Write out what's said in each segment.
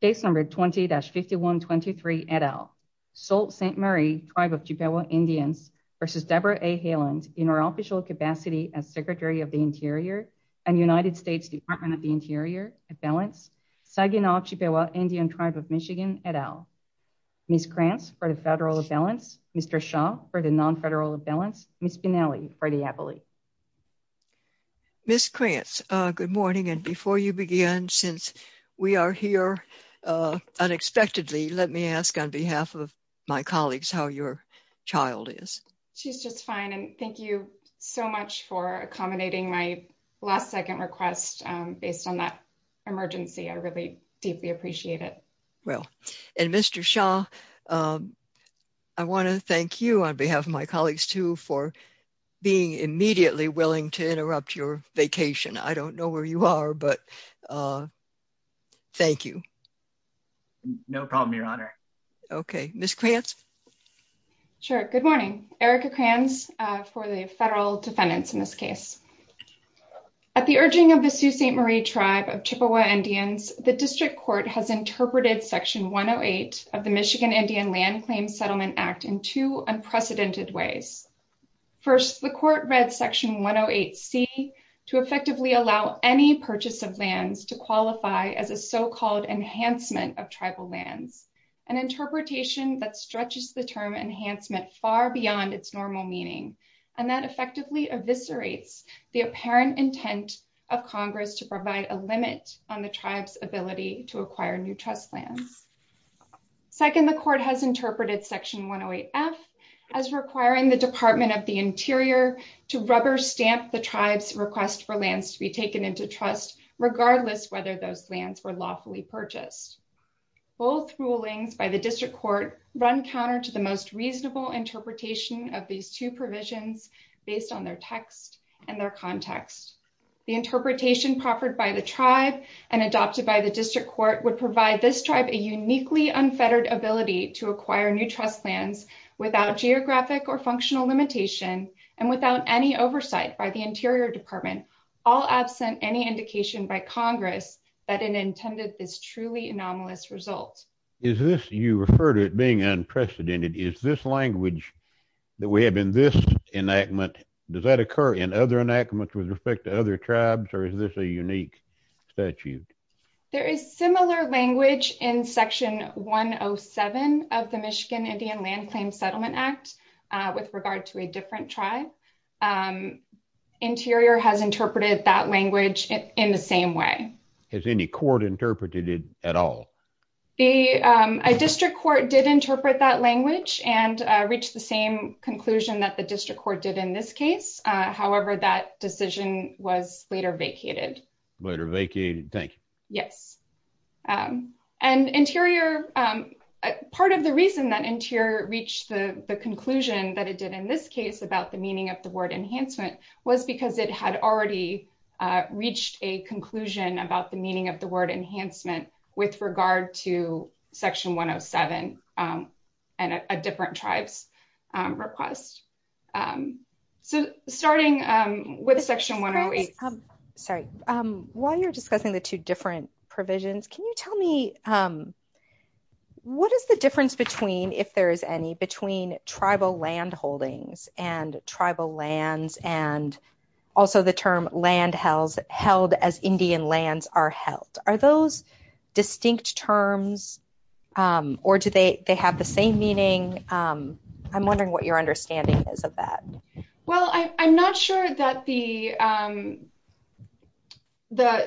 Case number 20-5123 et al. Sault Ste. Marie Tribe of Chippewa Indians v. Debra A. Haaland in her official capacity as Secretary of the Interior and United States Department of the Interior at Balance, Saginaw Chippewa Indian Tribe of Michigan et al. Ms. Krantz for the Federal of Balance, Mr. Shaw for the Non-Federal of Balance, Ms. Pinelli for the Appellee. Ms. Krantz, good morning. And before you begin, since we are here unexpectedly, let me ask on behalf of my colleagues how your child is. She's just fine. And thank you so much for accommodating my last second request based on that emergency. I really deeply appreciate it. Well, and Mr. Shaw, I want to thank you on behalf of my colleagues, too, for being immediately willing to interrupt your vacation. I don't know where you are, but thank you. No problem, Your Honor. Okay. Ms. Krantz? Sure. Good morning. Erica Krantz for the Federal Defendants in this case. At the urging of the Sault Ste. Marie Tribe of Chippewa Indians, the District Court has interpreted Section 108 of the Michigan Indian Land Claims Settlement Act in two unprecedented ways. First, the Court read Section 108C to effectively allow any purchase of lands to qualify as a so-called enhancement of tribal lands, an interpretation that stretches the term enhancement far beyond its normal meaning, and that effectively eviscerates the apparent intent of Congress to provide a limit on the tribe's ability to acquire new trust lands. Second, the Court has interpreted Section 108F as requiring the Department of the Interior to rubber stamp the tribe's request for lands to be taken into trust, regardless whether those lands were lawfully purchased. Both rulings by the District Court run counter to the most context. The interpretation proffered by the tribe and adopted by the District Court would provide this tribe a uniquely unfettered ability to acquire new trust lands without geographic or functional limitation and without any oversight by the Interior Department, all absent any indication by Congress that it intended this truly anomalous result. Is this, you refer to it being other tribes or is this a unique statute? There is similar language in Section 107 of the Michigan Indian Land Claims Settlement Act with regard to a different tribe. Interior has interpreted that language in the same way. Has any court interpreted it at all? A District Court did interpret that language and reached the same conclusion that the District Court did in this case. However, that decision was later vacated. Later vacated, thank you. Yes. And Interior, part of the reason that Interior reached the conclusion that it did in this case about the meaning of the word enhancement was because it had already reached a conclusion about the meaning of enhancement with regard to Section 107 and a different tribe's request. So, starting with Section 108. Sorry, while you're discussing the two different provisions, can you tell me what is the difference between, if there is any, between tribal land holdings and tribal lands and also the term land held as Indian lands are held? Are those distinct terms or do they have the same meaning? I'm wondering what your understanding is of that. Well, I'm not sure that the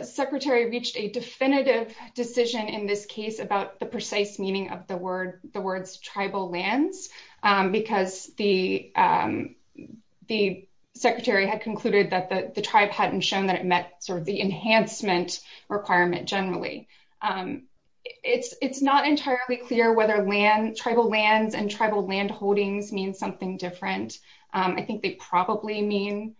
Secretary reached a definitive decision in this case about the precise meaning of the word, the words tribal lands, because the Secretary had concluded that the tribe hadn't shown that it met sort of the enhancement requirement generally. It's not entirely clear whether land, tribal lands and tribal land holdings mean something different. I think they probably mean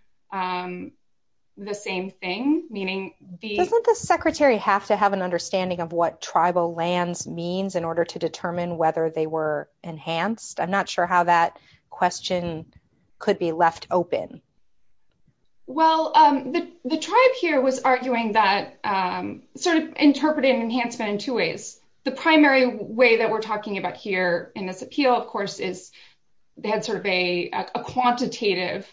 the same thing, meaning the... Doesn't the Secretary have to have an understanding of what tribal lands means in order to determine whether they were enhanced? I'm not sure how that question could be left open. Well, the tribe here was arguing that, sort of interpreting enhancement in two ways. The primary way that we're talking about here in this appeal, of course, is they had sort of a quantitative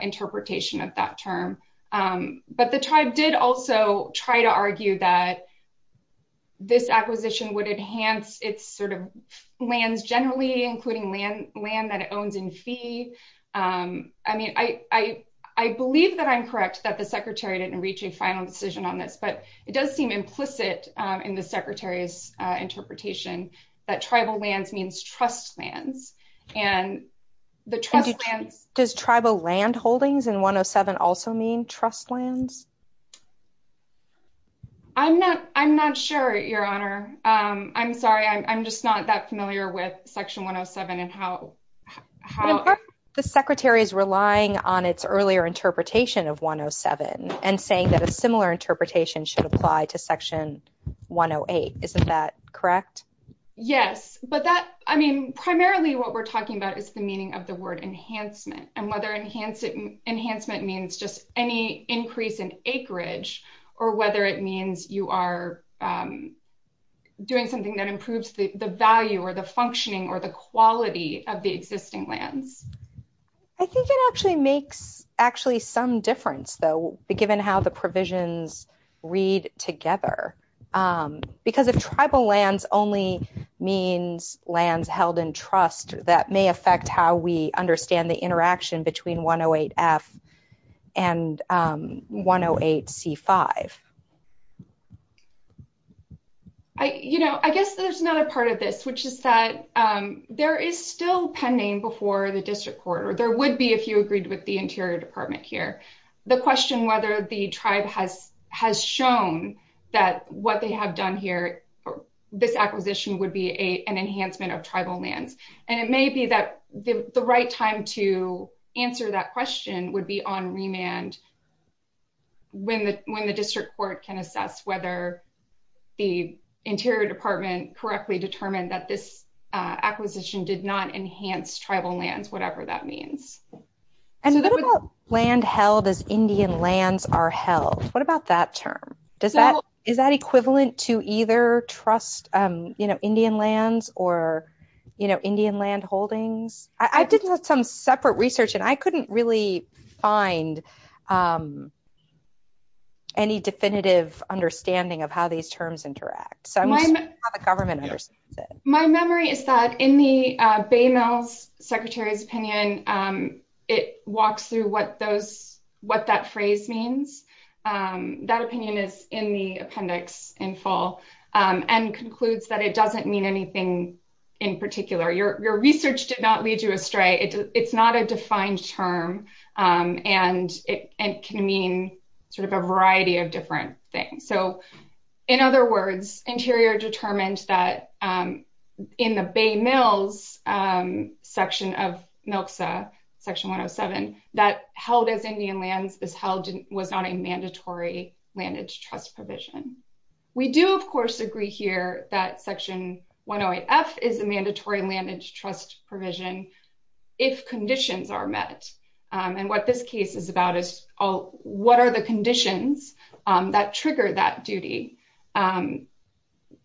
interpretation of that term. But the tribe did also try to argue that this acquisition would enhance its sort of lands generally, including land that it owns in fee. I mean, I believe that I'm correct that the Secretary didn't reach a final decision on this, but it does seem implicit in the Secretary's interpretation that tribal lands means trust lands and the trust lands... Does tribal land holdings in 107 also mean trust lands? I'm not sure, Your Honor. I'm sorry. I'm just not that familiar with Section 107 and how... The Secretary is relying on its earlier interpretation of 107 and saying that a similar interpretation should apply to Section 108. Isn't that correct? Yes, but that... I mean, primarily what we're talking about is the meaning of the word enhancement and whether enhancement means just any increase in acreage or whether it means you are doing something that improves the value or the functioning or the quality of the existing lands. I think it actually makes actually some difference, though, given how the provisions read together. Because if tribal lands only means lands held in trust, that may affect how we interact between 108F and 108C5. I guess there's another part of this, which is that there is still pending before the District Court, or there would be if you agreed with the Interior Department here, the question whether the tribe has shown that what they have done here, this acquisition would be an enhancement of tribal lands. And it may be that the right time to answer that question would be on remand when the District Court can assess whether the Interior Department correctly determined that this acquisition did not enhance tribal lands, whatever that means. And what about land held as Indian lands are held? What about that term? Is that equivalent to either trust Indian lands or Indian land holdings? I did some separate research and I couldn't really find any definitive understanding of how these terms interact. So I'm just wondering how the government understands it. My memory is that in the Bay Mills Secretary's opinion, it walks through what that phrase means. That opinion is in the appendix in full and concludes that it doesn't mean anything in particular. Your research did not lead you astray. It's not a defined term and it can mean sort of a variety of different things. So in other words, Interior determined that in the Bay Mills section of MILXA, Section 107, that held as Indian lands was not a mandatory landage trust provision. We do, of course, agree here that Section 108F is a mandatory landage trust provision if conditions are met. And what this case is about is what are the conditions that trigger that duty?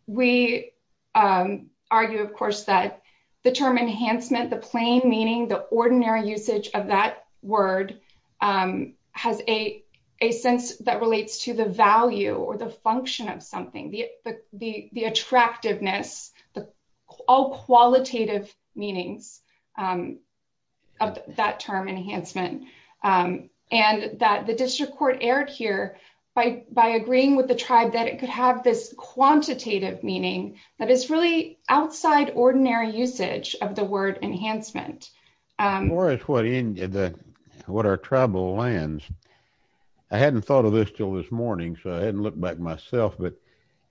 We argue, of course, that the term enhancement, the plain meaning, the ordinary usage of that word has a sense that relates to the value or the function of something, the attractiveness, the all qualitative meanings of that term enhancement. And that the district court erred here by agreeing with the tribe that it could have this quantitative meaning that is really outside ordinary usage of the word enhancement. For us, what our tribal lands, I hadn't thought of this till this morning, so I hadn't looked back myself, but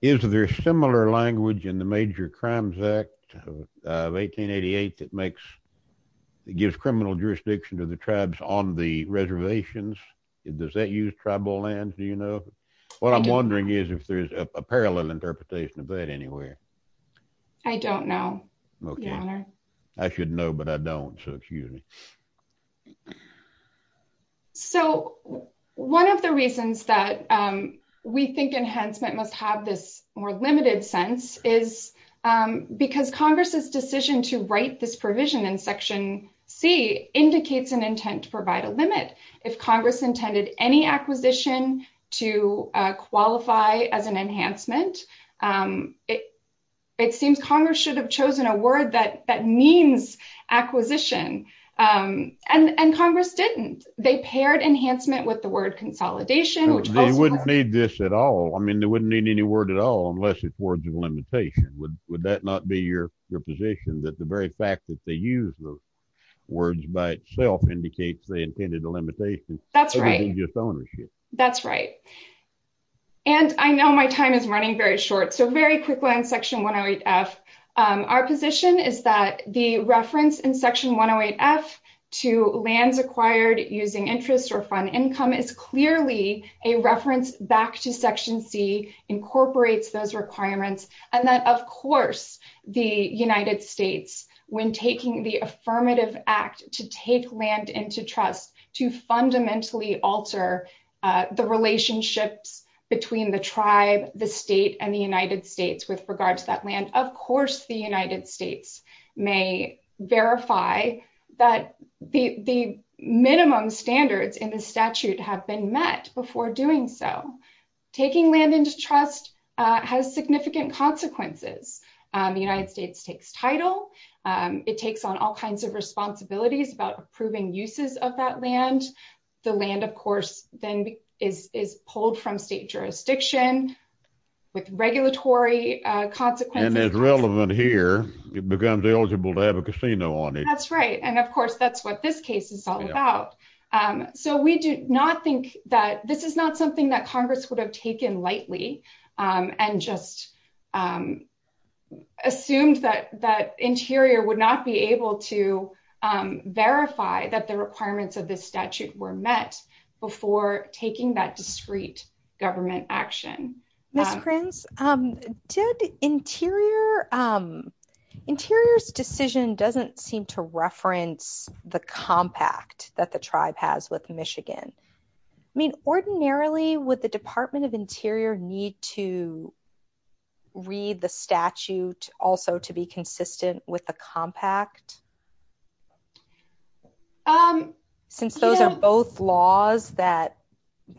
is there similar language in the Major Crimes Act of 1888 that gives criminal jurisdiction to the tribes on the reservations? Does that use tribal lands, do you know? What I'm wondering is if there's a parallel interpretation of that anywhere. I don't know, Your Honor. I should know, but I don't, so excuse me. So one of the reasons that we think enhancement must have this more limited sense is because Congress's decision to write this provision in Section C indicates an intent to provide a limit. If Congress intended any acquisition to qualify as an enhancement, it seems Congress should have chosen a word that means acquisition, and Congress didn't. They paired enhancement with the word consolidation, which also- They wouldn't need this at all. I mean, they wouldn't need any word at all unless it's words of limitation. Would that not be your position, that the very fact that they use those words by itself indicates they intended a limitation? That's right. That's right. And I know my time is running very short, so very quickly on Section 108F, our position is that the reference in Section 108F to lands acquired using interest or fund and that, of course, the United States, when taking the affirmative act to take land into trust to fundamentally alter the relationships between the tribe, the state, and the United States with regards to that land, of course the United States may verify that the minimum standards in the statute have been met before doing so. Taking land into trust has significant consequences. The United States takes title. It takes on all kinds of responsibilities about approving uses of that land. The land, of course, then is pulled from state jurisdiction with regulatory consequences. And as relevant here, it becomes eligible to have a casino on it. That's right. And of course, that's what this case is all about. So we do not think that this is not something that Congress would have taken lightly and just assumed that Interior would not be able to verify that the requirements of this statute were met before taking that discrete government action. Ms. Prince, did Interior... Interior's decision doesn't seem to reference the compact that the tribe has with Michigan. I mean, ordinarily, would the Department of Interior need to read the statute also to be consistent with the compact? Since those are both laws that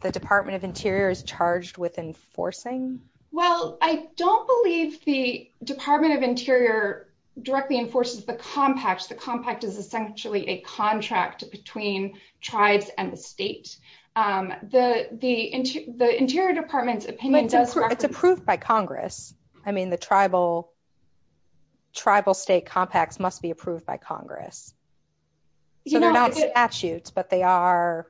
the Department of Interior is charged with enforcing? Well, I don't believe the Department of Interior directly enforces the compact. The compact is essentially a contract between tribes and the state. The Interior Department's opinion does... It's approved by Congress. I mean, the tribal state compacts must be approved by Congress. So they're not statutes, but they are...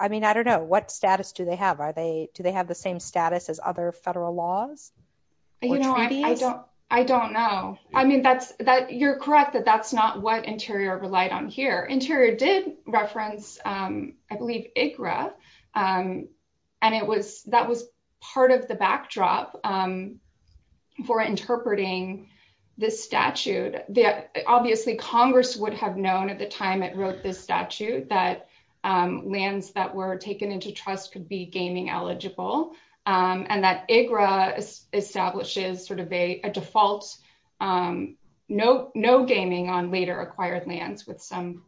I mean, I don't know. What status do they have? Do they have the same status as other federal laws or treaties? You know, I don't know. I mean, you're correct that that's not what Interior relied on here. Interior did reference, I believe, IGRA, and that was part of the backdrop for interpreting this statute. Obviously, Congress would have known at the time it wrote this statute that lands that were taken into trust could be gaming eligible, and that IGRA establishes sort of a default, no gaming on later acquired lands, with some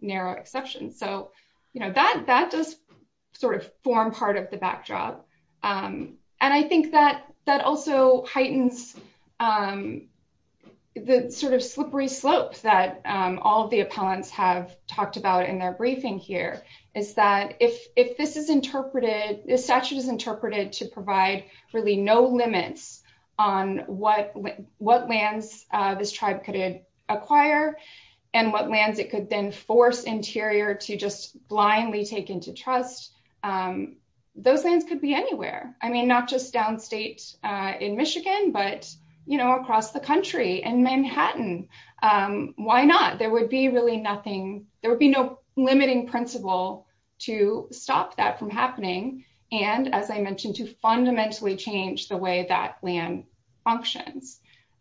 narrow exceptions. So, you know, that does sort of form part of the backdrop. And I think that also heightens the sort of slippery slope that all of the appellants have talked about in their briefing here, is that if this is interpreted, this statute is interpreted to provide really no limits on what lands this tribe could acquire and what lands it could then force Interior to just blindly take into trust, those lands could be anywhere. I mean, not just downstate in Michigan, but, you know, across the country and Manhattan. Why not? There would be really nothing, there would be no limiting principle to stop that from happening. And as I mentioned, to fundamentally change the way that land functions.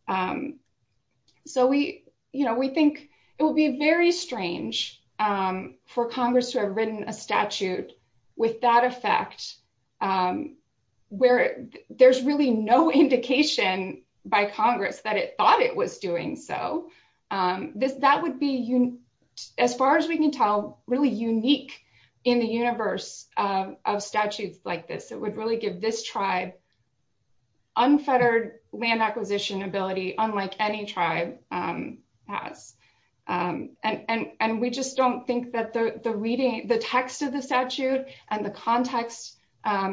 So we, you know, we think it will be very strange for Congress to have written a statute with that effect, where there's really no indication by Congress that it thought it was doing so. That would be, as far as we can tell, really unique in the universe of statutes like this. It would really give this tribe unfettered land acquisition ability, unlike any tribe has. And we just don't think that the reading, the text of the statute and the context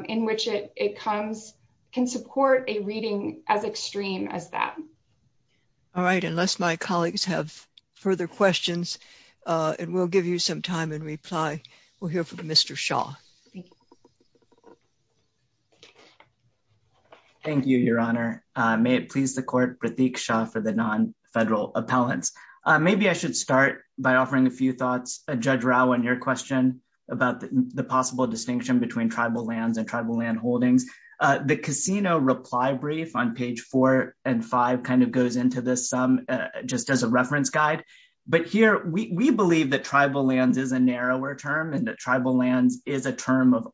in which it comes can support a reading as extreme as that. All right, unless my colleagues have further questions, and we'll give you some time and reply, we'll hear from Mr. Shah. Thank you, Your Honor. May it please the court, Pratik Shah for the non-federal appellants. Maybe I should start by offering a few thoughts, Judge Rao, on your question about the possible distinction between tribal lands and tribal land holdings. The casino reply brief on page four and five kind of goes into this, just as a reference guide. But here, we believe that tribal lands is a narrower term and that tribal lands is a term of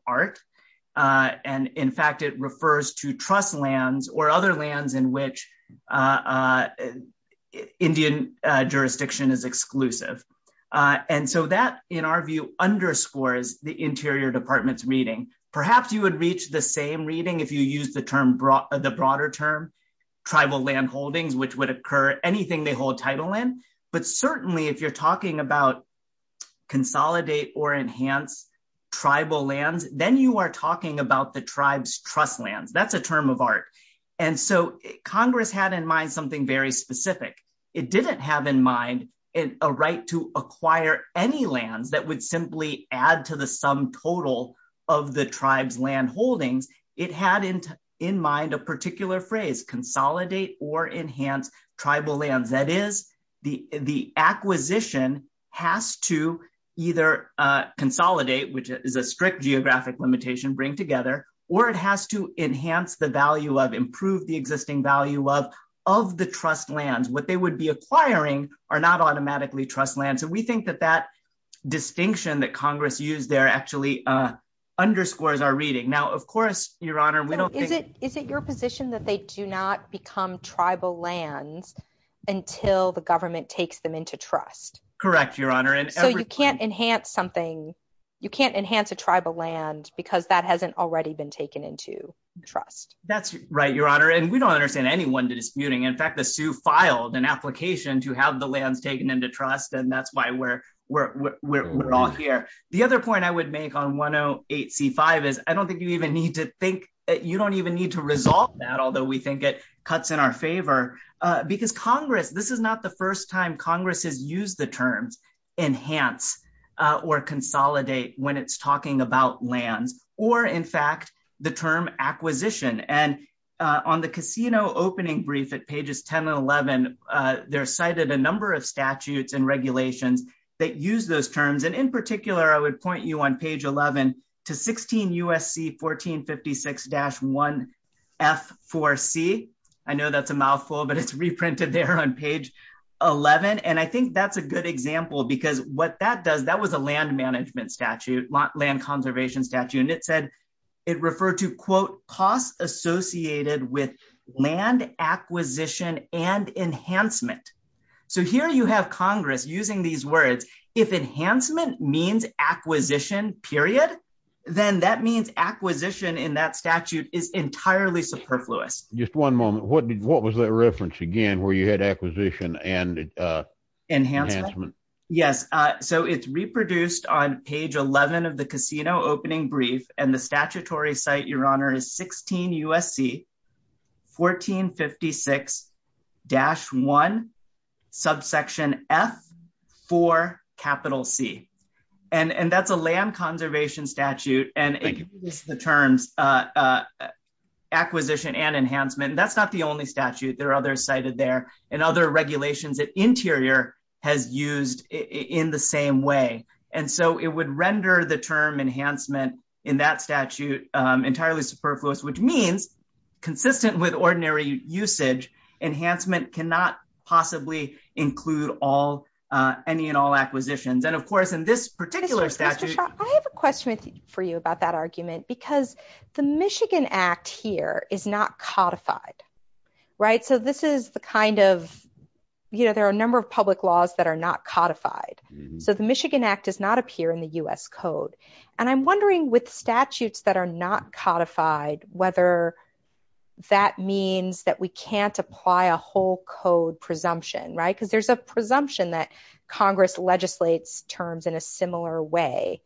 jurisdiction is exclusive. And so that, in our view, underscores the Interior Department's reading. Perhaps you would reach the same reading if you use the broader term, tribal land holdings, which would occur anything they hold title in. But certainly, if you're talking about consolidate or enhance tribal lands, then you are talking about the tribe's trust lands. That's a term of art. And so Congress had in mind something very specific. It didn't have in mind a right to acquire any lands that would simply add to the sum total of the tribe's land holdings. It had in mind a particular phrase, consolidate or enhance tribal lands. That is, the acquisition has to either consolidate, which is a strict geographic limitation, bring together, or it has to enhance the value of, improve the existing value of, the trust lands. What they would be acquiring are not automatically trust lands. So we think that that distinction that Congress used there actually underscores our reading. Now, of course, Your Honor, we don't think- Is it your position that they do not become tribal lands until the government takes them into trust? Correct, Your Honor. So you can't enhance something, you can't enhance a tribal land because that hasn't already been taken into trust? That's right, Your Honor. And we don't understand anyone disputing. In fact, the Sioux filed an application to have the lands taken into trust, and that's why we're all here. The other point I would make on 108C5 is I don't think you even need to think, you don't even need to resolve that, although we think it cuts in our favor. Because Congress, this is not the first time Congress has used the terms enhance or consolidate when it's talking about lands, or in fact, the term acquisition. And on the casino opening brief at pages 10 and 11, they're cited a number of statutes and regulations that use those terms. And in particular, I would point you on page 11 to 16 U.S.C. 1456-1F4C. I know that's a mouthful, but it's reprinted there on page 11. And I think that's a good example because what that does, that was a land management statute, land conservation statute. It referred to, quote, costs associated with land acquisition and enhancement. So here you have Congress using these words. If enhancement means acquisition, period, then that means acquisition in that statute is entirely superfluous. Just one moment. What was that reference again where you had acquisition and enhancement? Yes. So it's reproduced on page 11 of the casino opening brief. And the statutory site, Your Honor, is 16 U.S.C. 1456-1F4C. And that's a land conservation statute. And it uses the terms acquisition and enhancement. That's not the only statute. There are others cited there. And other regulations that Interior has used in the same way. And so it would render the term enhancement in that statute entirely superfluous, which means consistent with ordinary usage, enhancement cannot possibly include any and all acquisitions. And, of course, in this particular statute- Mr. Shaw, I have a question for you about that argument. Because the Michigan Act here is not codified, right? So this is the kind of, you know, there are a number of public laws that are not codified. So the Michigan Act does not appear in the U.S. Code. And I'm wondering with statutes that are not codified, whether that means that we can't apply a whole code presumption, right? Because there's a presumption that Congress legislates terms in a similar way.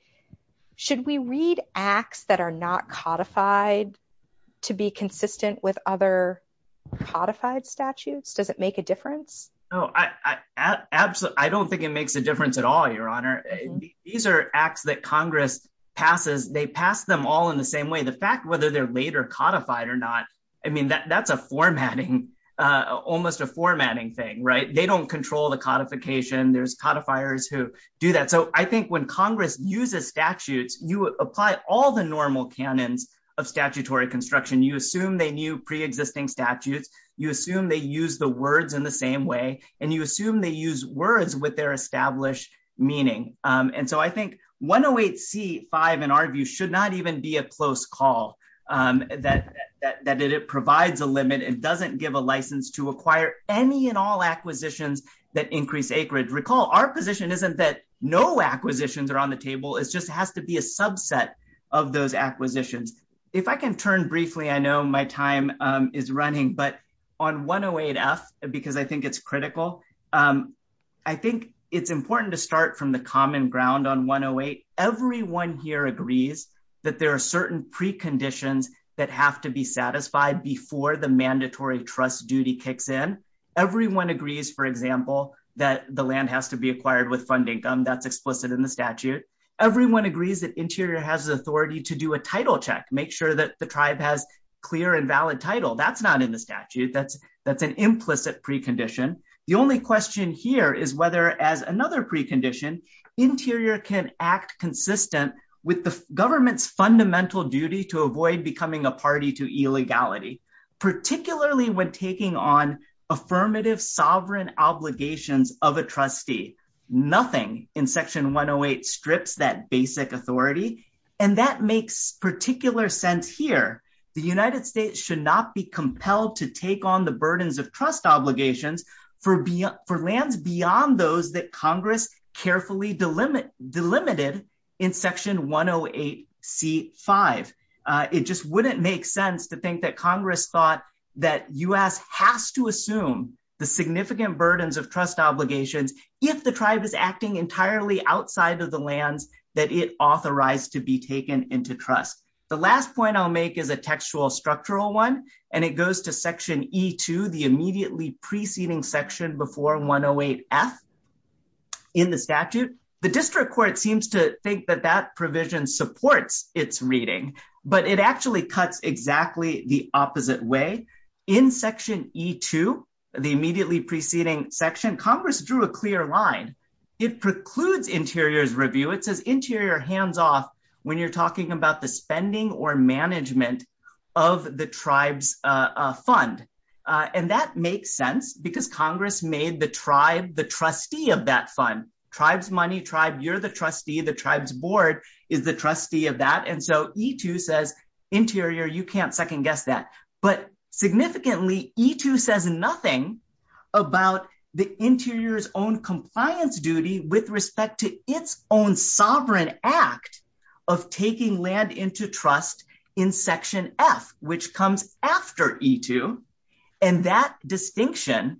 Should we read acts that are not codified to be consistent with other codified statutes? Does it make a difference? Oh, absolutely. I don't think it makes a difference at all, Your Honor. These are acts that Congress passes. They pass them all in the same way. The fact whether they're later codified or not, I mean, that's a formatting, almost a formatting thing, right? They don't control the codification. There's codifiers who do that. So I think when Congress uses statutes, you apply all the normal canons of statutory construction. You assume they knew pre-existing statutes. You assume they use the words in the same way. And you assume they use words with their established meaning. And so I think 108C-5, in our view, should not even be a close call. That it provides a limit. It doesn't give a license to acquire any and all acquisitions that increase acreage. Our position isn't that no acquisitions are on the table. It just has to be a subset of those acquisitions. If I can turn briefly, I know my time is running. But on 108F, because I think it's critical, I think it's important to start from the common ground on 108. Everyone here agrees that there are certain preconditions that have to be satisfied before the mandatory trust duty kicks in. Everyone agrees, for example, that the land has to be acquired with fund income. That's explicit in the statute. Everyone agrees that Interior has the authority to do a title check. Make sure that the tribe has clear and valid title. That's not in the statute. That's an implicit precondition. The only question here is whether, as another precondition, Interior can act consistent with the government's fundamental duty to avoid becoming a party to illegality. Particularly when taking on affirmative sovereign obligations of a trustee. Nothing in Section 108 strips that basic authority. And that makes particular sense here. The United States should not be compelled to take on the burdens of trust obligations for lands beyond those that Congress carefully delimited in Section 108C5. It just wouldn't make sense to think that Congress thought that US has to assume the significant burdens of trust obligations if the tribe is acting entirely outside of the lands that it authorized to be taken into trust. The last point I'll make is a textual structural one, and it goes to Section E2, the immediately preceding section before 108F in the statute. The district court seems to think that that provision supports its reading, but it actually cuts exactly the opposite way. In Section E2, the immediately preceding section, Congress drew a clear line. It precludes Interior's review. It says Interior hands off when you're talking about the spending or management of the tribe's fund. And that makes sense because Congress made the tribe the trustee of that fund. Tribe's money, tribe, you're the trustee, the tribe's board is the trustee of that. And so E2 says, Interior, you can't second-guess that. But significantly, E2 says nothing about the Interior's own compliance duty with respect to its own sovereign act of taking land into trust in Section F, which comes after E2. And that distinction,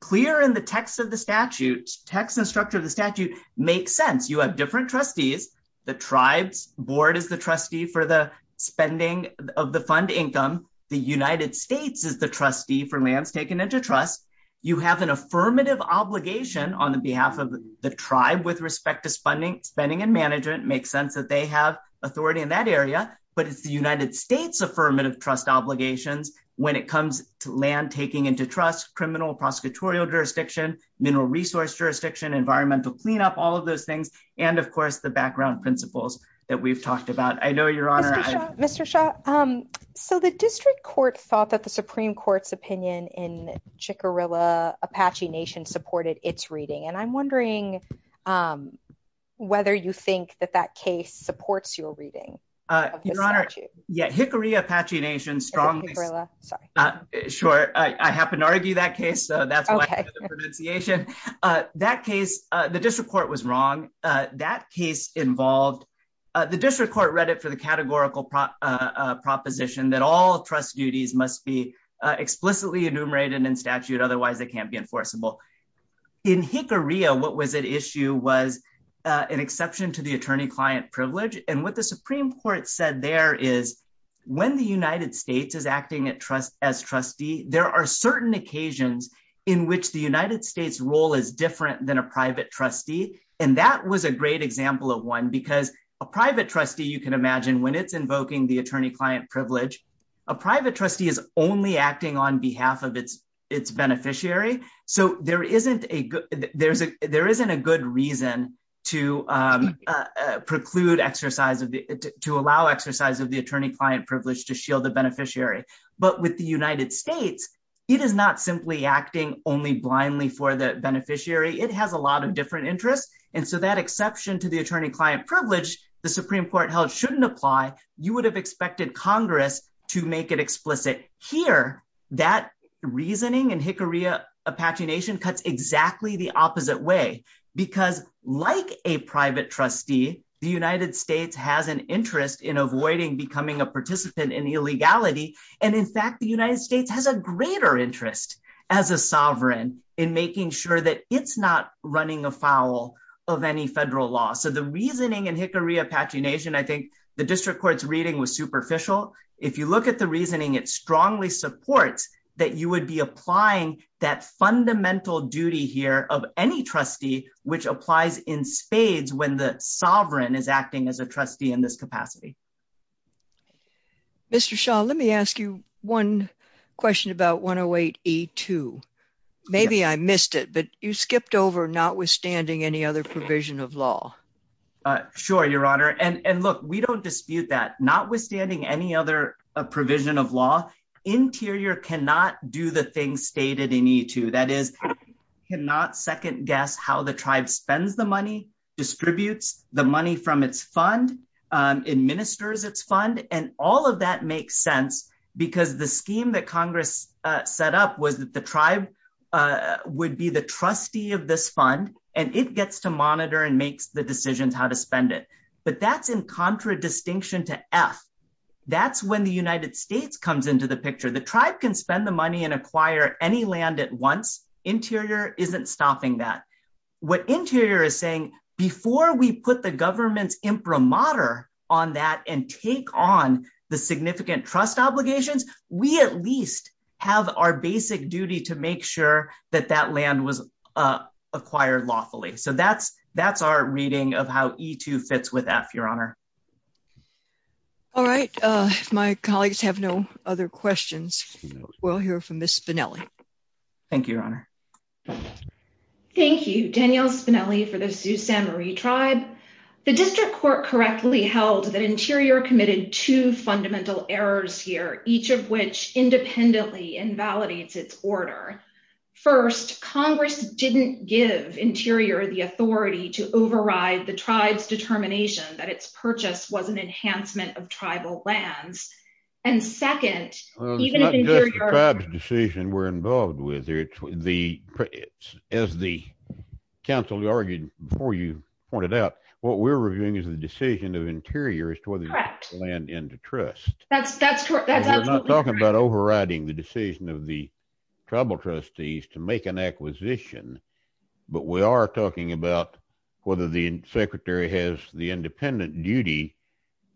clear in the text of the statute, text and structure of the statute, makes sense. You have different trustees. The tribe's board is the trustee for the spending of the fund income. The United States is the trustee for lands taken into trust. You have an affirmative obligation on the behalf of the tribe with respect to spending and management. Makes sense that they have authority in that area. But it's the United States' affirmative trust obligations when it comes to land taking into trust, criminal prosecutorial jurisdiction, mineral resource jurisdiction, environmental cleanup, all of those things, and, of course, the background principles that we've talked about. I know, Your Honor— Mr. Shah, Mr. Shah, so the district court thought that the Supreme Court's opinion in Chickarilla Apache Nation supported its reading. And I'm wondering whether you think that that case supports your reading of the statute. Your Honor, yeah, Hickory Apache Nation strongly— Hickory Apache, sorry. Sure, I happen to argue that case, so that's why I have the pronunciation. That case, the district court was wrong. That case involved—the district court read it for the categorical proposition that all trust duties must be explicitly enumerated in statute. Otherwise, they can't be enforceable. In Hickory, what was at issue was an exception to the attorney-client privilege. And what the Supreme Court said there is, when the United States is acting as trustee, there are certain occasions in which the United States' role is different than a private trustee. And that was a great example of one, because a private trustee, you can imagine, when it's invoking the attorney-client privilege, a private trustee is only acting on behalf of its beneficiary. So there isn't a good reason to allow exercise of the attorney-client privilege to shield the beneficiary. But with the United States, it is not simply acting only blindly for the beneficiary. It has a lot of different interests. And so that exception to the attorney-client privilege, the Supreme Court held shouldn't apply. You would have expected Congress to make it explicit. Here, that reasoning in Hickory-Apache Nation cuts exactly the opposite way. Because like a private trustee, the United States has an interest in avoiding becoming a participant in illegality. And in fact, the United States has a greater interest as a sovereign in making sure that it's not running afoul of any federal law. So the reasoning in Hickory-Apache Nation, I think the district court's reading was superficial. If you look at the reasoning, it strongly supports that you would be applying that fundamental duty here of any trustee, which applies in spades when the sovereign is acting as a trustee in this capacity. Mr. Shah, let me ask you one question about 108E2. Maybe I missed it, but you skipped over notwithstanding any other provision of law. Sure, Your Honor. And look, we don't dispute that. Notwithstanding any other provision of law, Interior cannot do the things stated in E2. That is, cannot second guess how the tribe spends the money, distributes the money from its fund, administers its fund. And all of that makes sense because the scheme that Congress set up was that the tribe would be the trustee of this fund, and it gets to monitor and makes the decisions how to spend it. But that's in contradistinction to F. That's when the United States comes into the picture. The tribe can spend the money and acquire any land at once. Interior isn't stopping that. What Interior is saying, before we put the government's imprimatur on that and take on the significant trust obligations, we at least have our basic duty to make sure that that land was acquired lawfully. So that's our reading of how E2 fits with F, Your Honor. All right, if my colleagues have no other questions, we'll hear from Ms. Spinelli. Thank you, Your Honor. Thank you, Danielle Spinelli for the Sault Ste. Marie tribe. The District Court correctly held that Interior committed two fundamental errors here, each of which independently invalidates its order. First, Congress didn't give Interior the authority to override the tribe's determination that its purchase was an enhancement of tribal lands. And second, even if Interior— It's not just the tribe's decision we're involved with. As the counsel argued before you pointed out, what we're reviewing is the decision of Interior as to whether to land into trust. That's absolutely correct. We're not talking about overriding the decision of the tribal trustees to make an acquisition, but we are talking about whether the Secretary has the independent duty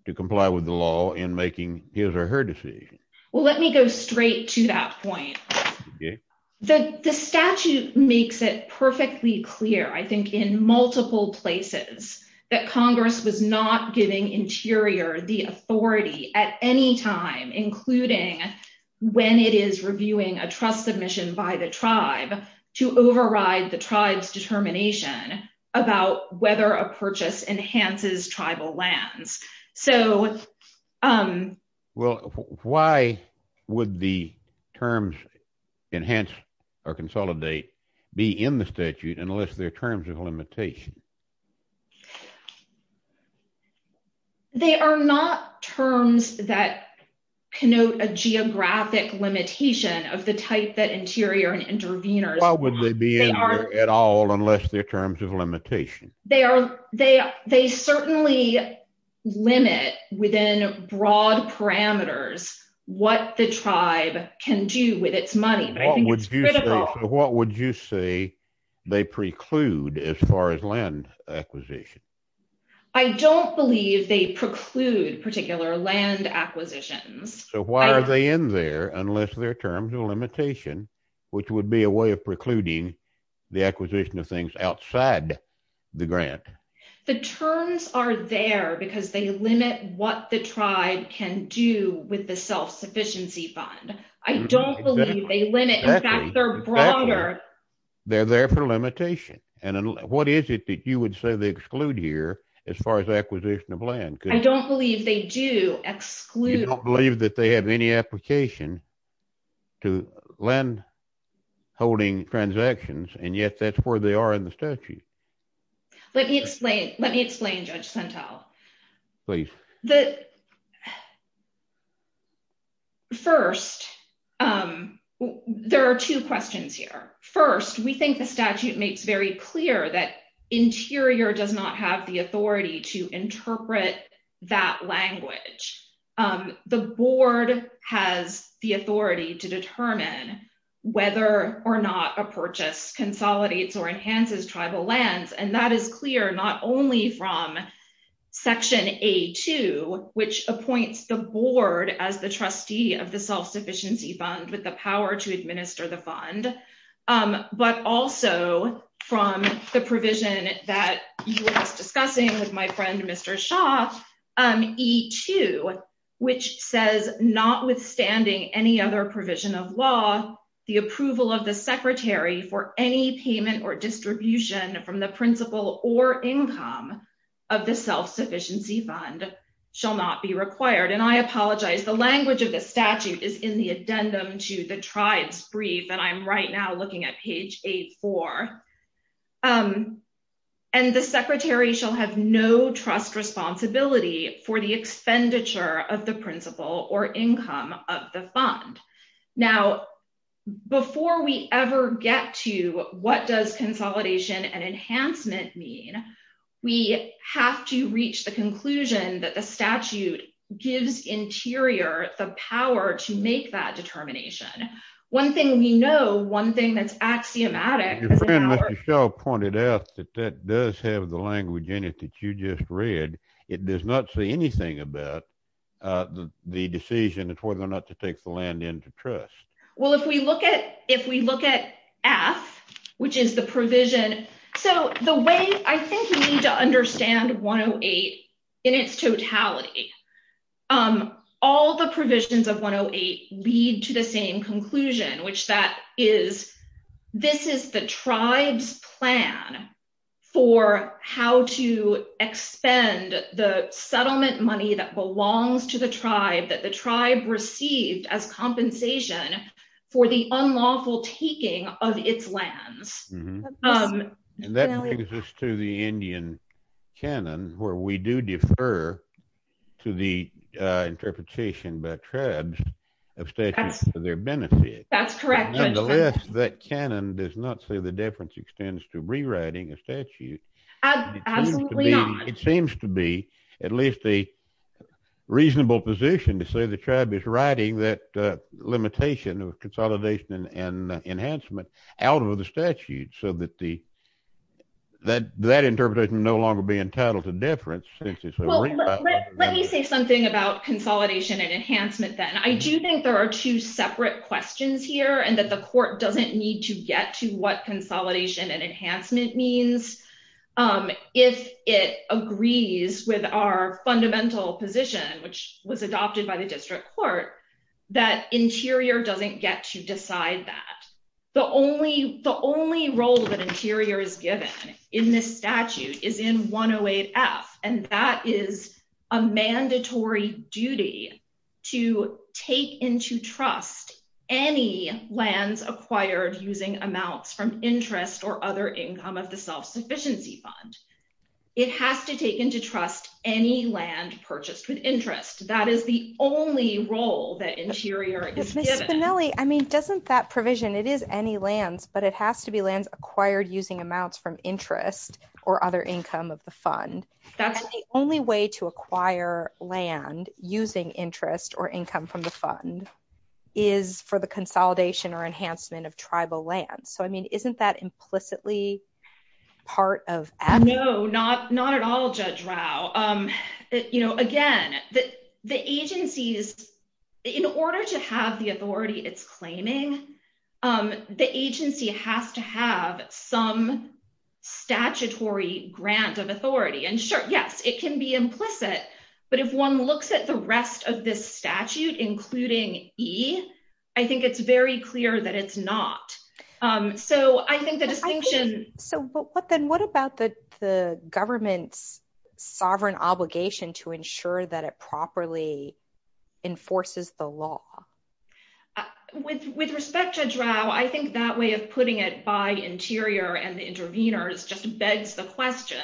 to comply with the law in making his or her decision. Well, let me go straight to that point. The statute makes it perfectly clear, I think, in multiple places that Congress was not giving Interior the authority at any time, including when it is reviewing a trust submission by the tribe to override the tribe's determination about whether a purchase enhances tribal lands. Well, why would the terms enhance or consolidate be in the statute unless their terms of limitation? Well, they are not terms that connote a geographic limitation of the type that Interior and intervenors— Why would they be in there at all unless their terms of limitation? They certainly limit within broad parameters what the tribe can do with its money, but I think it's critical— I don't believe they preclude particular land acquisitions. So why are they in there unless their terms of limitation, which would be a way of precluding the acquisition of things outside the grant? The terms are there because they limit what the tribe can do with the self-sufficiency fund. I don't believe they limit— They're there for limitation. And what is it that you would say they exclude here as far as acquisition of land? I don't believe they do exclude— You don't believe that they have any application to land holding transactions, and yet that's where they are in the statute. Let me explain. Let me explain, Judge Sentel. Please. First, there are two questions here. First, we think the statute makes very clear that Interior does not have the authority to interpret that language. The board has the authority to determine whether or not a purchase consolidates or enhances tribal lands, and that is clear not only from Section A.2, which appoints the board as the trustee of the self-sufficiency fund with the power to administer the fund, but also from the provision that you were just discussing with my friend Mr. Shaw, E.2, which says, notwithstanding any other provision of law, the approval of the secretary for any payment or distribution from the principal or income of the self-sufficiency fund shall not be required. And I apologize. The language of the statute is in the addendum to the tribe's brief, and I'm right now looking at page 8-4. And the secretary shall have no trust responsibility for the expenditure of the principal or income of the fund. Now, before we ever get to what does consolidation and enhancement mean, we have to reach the conclusion that the statute gives Interior the power to make that determination. One thing we know, one thing that's axiomatic... Your friend Mr. Shaw pointed out that that does have the language in it that you just read. It does not say anything about the decision as whether or not to take the land into trust. Well, if we look at F, which is the provision... So the way I think we need to understand 108 in its totality, all the provisions of 108 lead to the same conclusion, which that is, this is the tribe's plan for how to expend the settlement money that belongs to the tribe, that the tribe received as compensation for the unlawful taking of its lands. And that brings us to the Indian canon, where we do defer to the interpretation by tribes of statutes for their benefit. That's correct. Nonetheless, that canon does not say the difference extends to rewriting a statute. Absolutely not. It seems to be at least a reasonable position to say the tribe is writing that so that that interpretation will no longer be entitled to difference. Let me say something about consolidation and enhancement then. I do think there are two separate questions here, and that the court doesn't need to get to what consolidation and enhancement means if it agrees with our fundamental position, which was adopted by the district court, that interior doesn't get to decide that. The only role that interior is given in this statute is in 108F, and that is a mandatory duty to take into trust any lands acquired using amounts from interest or other income of the self-sufficiency fund. It has to take into trust any land purchased with interest. That is the only role that interior is given. Doesn't that provision, it is any lands, but it has to be lands acquired using amounts from interest or other income of the fund. That's the only way to acquire land using interest or income from the fund is for the consolidation or enhancement of tribal lands. Isn't that implicitly part of- No, not at all, Judge Rao. You know, again, the agencies, in order to have the authority it's claiming, the agency has to have some statutory grant of authority. And sure, yes, it can be implicit. But if one looks at the rest of this statute, including E, I think it's very clear that it's not. So I think the distinction- Then what about the government's sovereign obligation to ensure that it properly enforces the law? With respect, Judge Rao, I think that way of putting it by interior and the intervenors just begs the question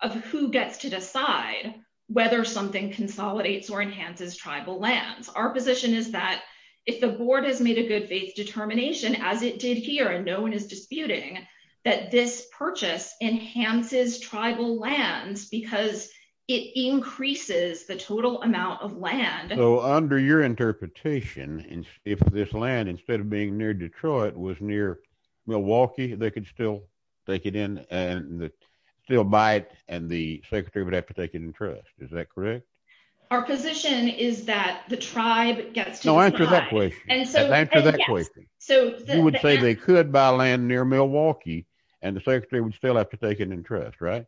of who gets to decide whether something consolidates or enhances tribal lands. Our position is that if the board has made a good faith determination, as it did here, no one is disputing that this purchase enhances tribal lands because it increases the total amount of land. So under your interpretation, if this land, instead of being near Detroit, was near Milwaukee, they could still take it in and still buy it, and the secretary would have to take it in trust. Is that correct? Our position is that the tribe gets to decide. No, answer that question. And so- Answer that question. You would say they could buy land near Milwaukee, and the secretary would still have to take it in trust, right?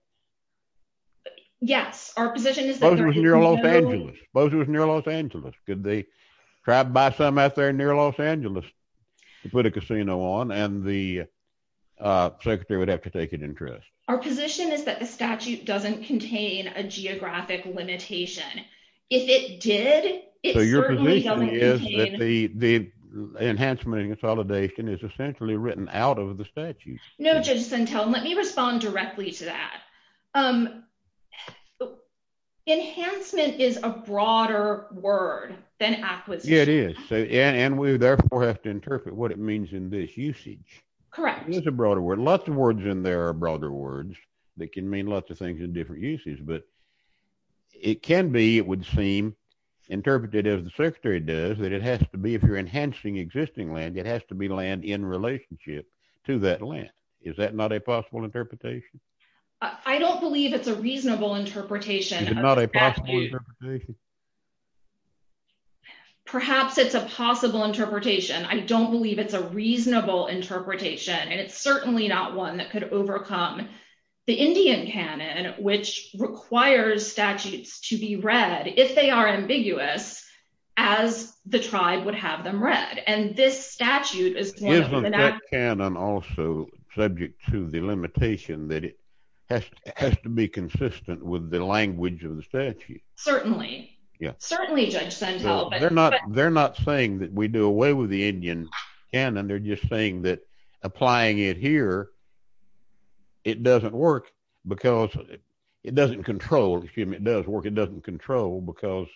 Yes, our position is- Suppose it was near Los Angeles. Could they try to buy some out there near Los Angeles to put a casino on, and the secretary would have to take it in trust. Our position is that the statute doesn't contain a geographic limitation. If it did, it certainly doesn't contain- Essentially written out of the statute. No, Judge Centel, let me respond directly to that. Enhancement is a broader word than acquisition. It is, and we therefore have to interpret what it means in this usage. Correct. It is a broader word. Lots of words in there are broader words that can mean lots of things in different uses, but it can be, it would seem, interpreted as the secretary does, that it has to be, if you're enhancing existing land, it has to be land in relationship to that land. Is that not a possible interpretation? I don't believe it's a reasonable interpretation. Is it not a possible interpretation? Perhaps it's a possible interpretation. I don't believe it's a reasonable interpretation, and it's certainly not one that could overcome the Indian canon, which requires statutes to be read if they are ambiguous, as the tribe would have them read, and this statute is- Isn't that canon also subject to the limitation that it has to be consistent with the language of the statute? Certainly. Certainly, Judge Centel, but- They're not saying that we do away with the Indian canon. They're just saying that applying it here, it doesn't work because it doesn't control, excuse me, it does work, it doesn't control because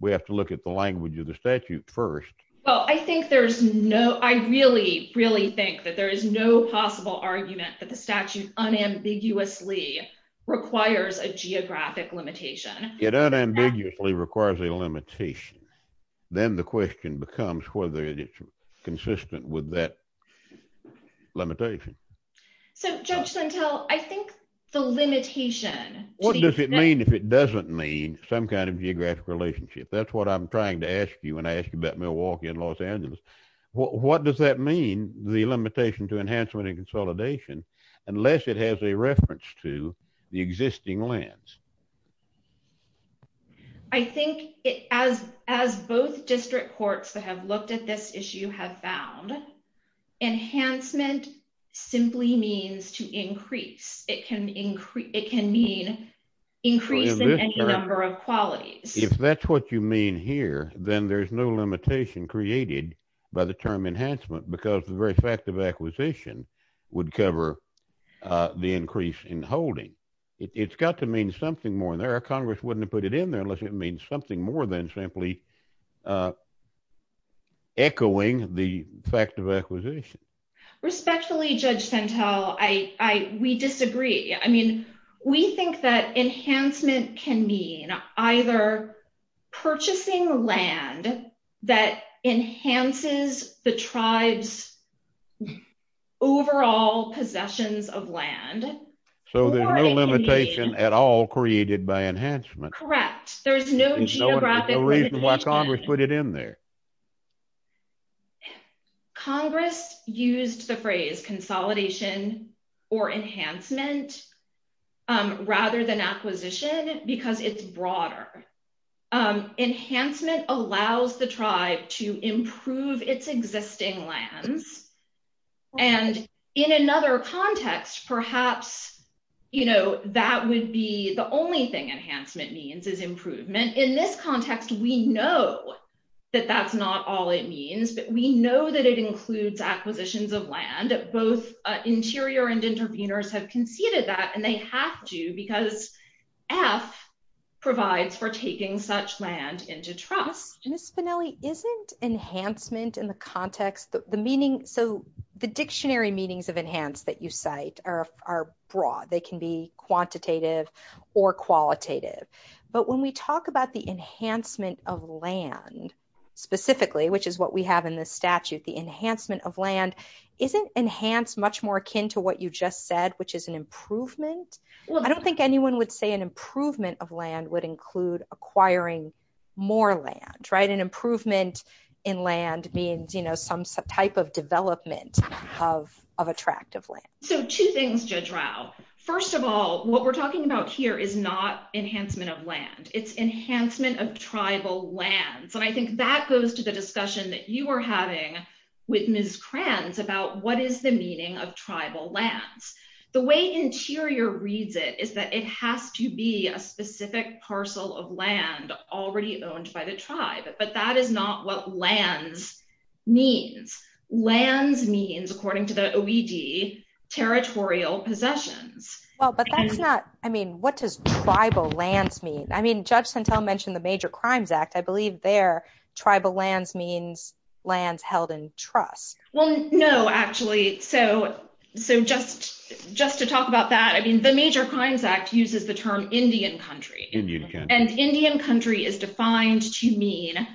we have to look at the language of the statute first. Well, I think there's no, I really, really think that there is no possible argument that the statute unambiguously requires a geographic limitation. It unambiguously requires a limitation. Then the question becomes whether it's consistent with that limitation. So, Judge Centel, I think the limitation- What does it mean if it doesn't mean some kind of geographic relationship? That's what I'm trying to ask you when I ask you about Milwaukee and Los Angeles. What does that mean, the limitation to enhancement and consolidation, unless it has a reference to the existing lands? I think as both district courts that have looked at this issue have found, enhancement simply means to increase. It can mean increasing any number of qualities. If that's what you mean here, then there's no limitation created by the term enhancement because the very fact of acquisition would cover the increase in holding. It's got to mean something more in there. Congress wouldn't have put it in there unless it means something more than simply echoing the fact of acquisition. Respectfully, Judge Centel, we disagree. I mean, we think that enhancement can mean either purchasing land that enhances the tribe's overall possessions of land. So, there's no limitation at all created by enhancement. Correct. There's no geographic limitation. There's no reason why Congress put it in there. Congress used the phrase consolidation or enhancement rather than acquisition because it's broader. Enhancement allows the tribe to improve its existing lands. And in another context, perhaps, you know, that would be the only thing enhancement means is improvement. In this context, we know that that's not all it means, but we know that it includes acquisitions of land. Both interior and intervenors have conceded that and they have to because F provides for taking such land into trust. Ms. Spinelli, isn't enhancement in the context, so the dictionary meanings of enhanced that you cite are broad. They can be quantitative or qualitative. But when we talk about the enhancement of land specifically, which is what we have in this statute, the enhancement of land isn't enhanced much more akin to what you just said, which is an improvement. I don't think anyone would say an improvement of land would include acquiring more land, right? Improvement in land means some type of development of attractive land. So two things, Judge Rao. First of all, what we're talking about here is not enhancement of land. It's enhancement of tribal lands. And I think that goes to the discussion that you are having with Ms. Kranz about what is the meaning of tribal lands. The way interior reads it is that it has to be a specific parcel of land already owned by the tribe. But that is not what lands means. Lands means, according to the OED, territorial possessions. Well, but that's not, I mean, what does tribal lands mean? I mean, Judge Sentelle mentioned the Major Crimes Act. I believe there, tribal lands means lands held in trust. Well, no, actually. So just to talk about that, I mean, the Major Crimes Act uses the term Indian country. And Indian country is defined to mean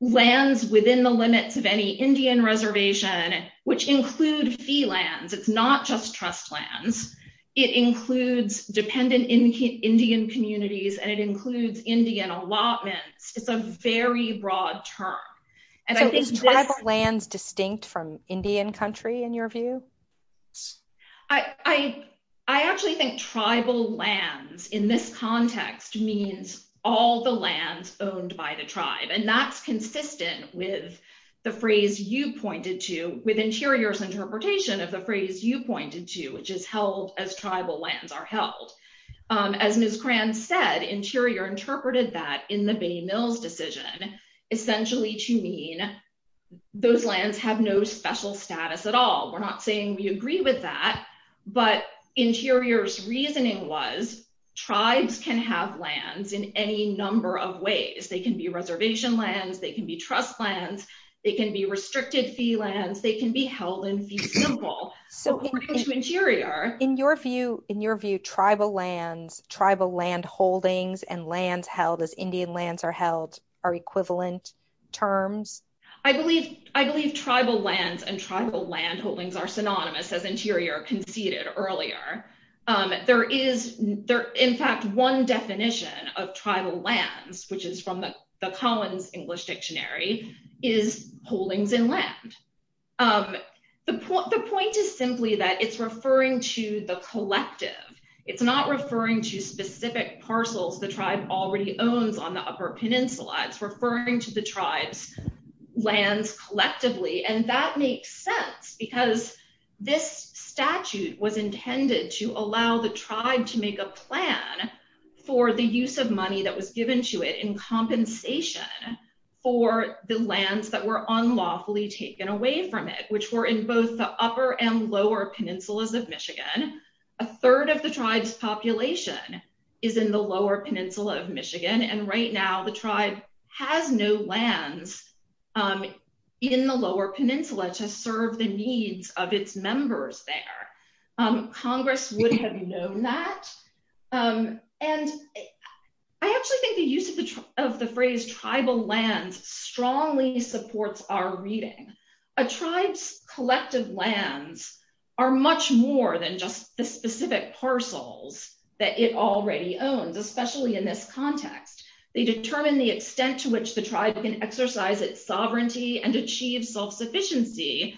lands within the limits of any Indian reservation, which include fee lands. It's not just trust lands. It includes dependent Indian communities, and it includes Indian allotments. It's a very broad term. And so is tribal lands distinct from Indian country, in your view? I actually think tribal lands in this context means all the lands owned by the tribe. And that's consistent with the phrase you pointed to, with Interior's interpretation of the phrase you pointed to, which is held as tribal lands are held. As Ms. Kranz said, Interior interpreted that in the Benny Mills decision, essentially to mean those lands have no special status at all. We're not saying we agree with that. But Interior's reasoning was tribes can have lands in any number of ways. They can be reservation lands. They can be trust lands. They can be restricted fee lands. They can be held in fee simple, according to Interior. In your view, tribal lands, tribal land holdings, and lands held as Indian lands are held are equivalent terms? I believe tribal lands and tribal land holdings are synonymous, as Interior conceded earlier. There is, in fact, one definition of tribal lands, which is from the Collins English Dictionary, is holdings in land. The point is simply that it's referring to the collective. It's not referring to specific parcels the tribe already owns on the upper peninsula. It's referring to the tribe's lands collectively. That makes sense because this statute was intended to allow the tribe to make a plan for the use of money that was given to it in compensation for the lands that were unlawfully taken away from it, which were in both the upper and lower peninsulas of Michigan. A third of the tribe's population is in the lower peninsula of Michigan. And right now, the tribe has no lands in the lower peninsula to serve the needs of its members there. Congress would have known that. And I actually think the use of the phrase tribal lands strongly supports our reading. A tribe's collective lands are much more than just the specific parcels that it already owns, especially in this context. They determine the extent to which the tribe can exercise its sovereignty and achieve self-sufficiency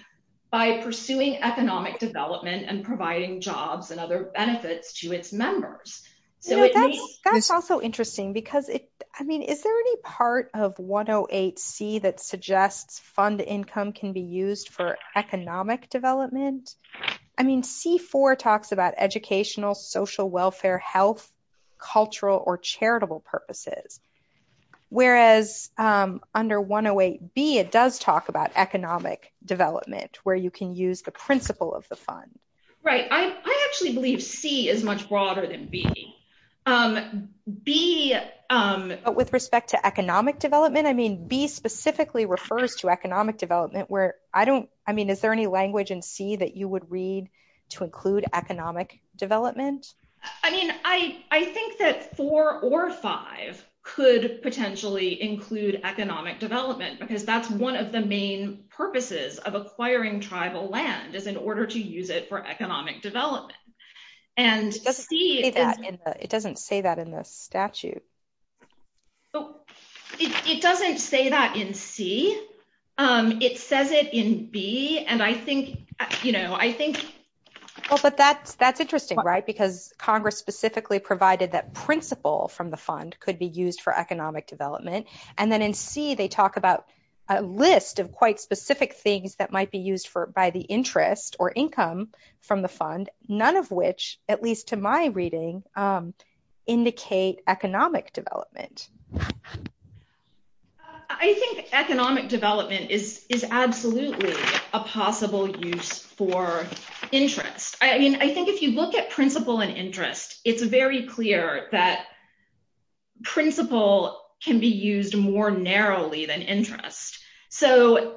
by pursuing economic development and providing jobs and other benefits to its members. So it may- That's also interesting because, I mean, is there any part of 108C that suggests fund income can be used for economic development? I mean, C4 talks about educational, social welfare, health, cultural, or charitable purposes. Whereas under 108B, it does talk about economic development where you can use the principle of the fund. Right. I actually believe C is much broader than B. B- With respect to economic development? I mean, B specifically refers to economic development where I don't- Is there any language in C that you would read to include economic development? I mean, I think that four or five could potentially include economic development because that's one of the main purposes of acquiring tribal land is in order to use it for economic development. And C- It doesn't say that in the statute. It doesn't say that in C. It says it in B, and I think, you know, I think- Well, but that's interesting, right? Because Congress specifically provided that principle from the fund could be used for economic development. And then in C, they talk about a list of quite specific things that might be used for by the interest or income from the fund, none of which, at least to my reading, indicate economic development. I think economic development is absolutely a possible use for interest. I mean, I think if you look at principle and interest, it's very clear that principle can be used more narrowly than interest. So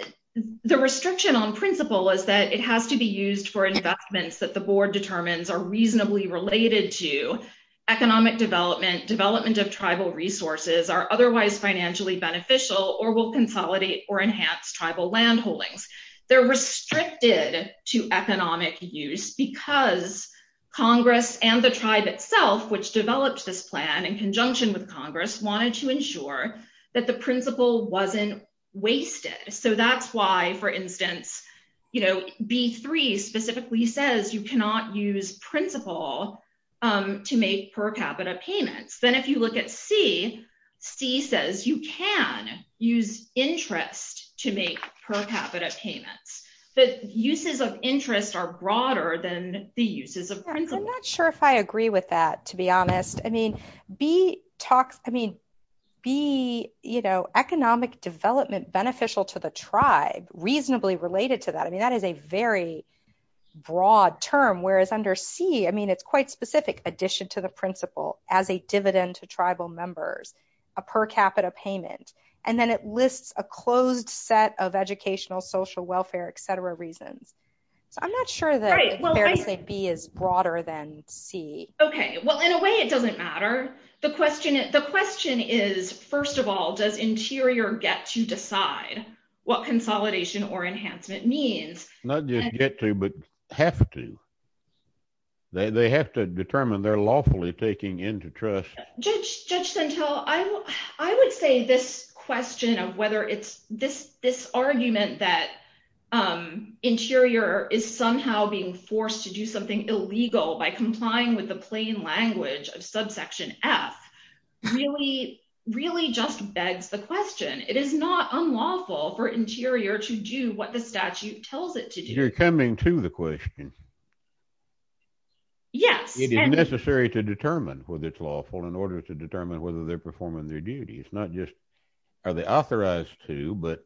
the restriction on principle is that it has to be used for investments that the board determines are reasonably related to economic development, development of tribal resources are otherwise financially beneficial or will consolidate or enhance tribal land holdings. They're restricted to economic use because Congress and the tribe itself, which developed this plan in conjunction with Congress, wanted to ensure that the principle wasn't wasted. So that's why, for instance, you know, use principle to make per capita payments. Then if you look at C, C says you can use interest to make per capita payments. But uses of interest are broader than the uses of principle. I'm not sure if I agree with that, to be honest. I mean, be, you know, economic development beneficial to the tribe reasonably related to that. I mean, that is a very broad term. Whereas under C, I mean, it's quite specific. Addition to the principle as a dividend to tribal members, a per capita payment. And then it lists a closed set of educational, social welfare, et cetera, reasons. So I'm not sure that B is broader than C. Okay, well, in a way, it doesn't matter. The question is, first of all, does interior get to decide what consolidation or enhancement means? Not just get to, but have to. They have to determine they're lawfully taking into trust. Judge Sentelle, I would say this question of whether it's this argument that interior is somehow being forced to do something illegal by complying with the plain language of subsection F really, really just begs the question. It is not unlawful for interior to do what the statute tells it to do. You're coming to the question. Yes. It is necessary to determine whether it's lawful in order to determine whether they're performing their duties. Not just are they authorized to, but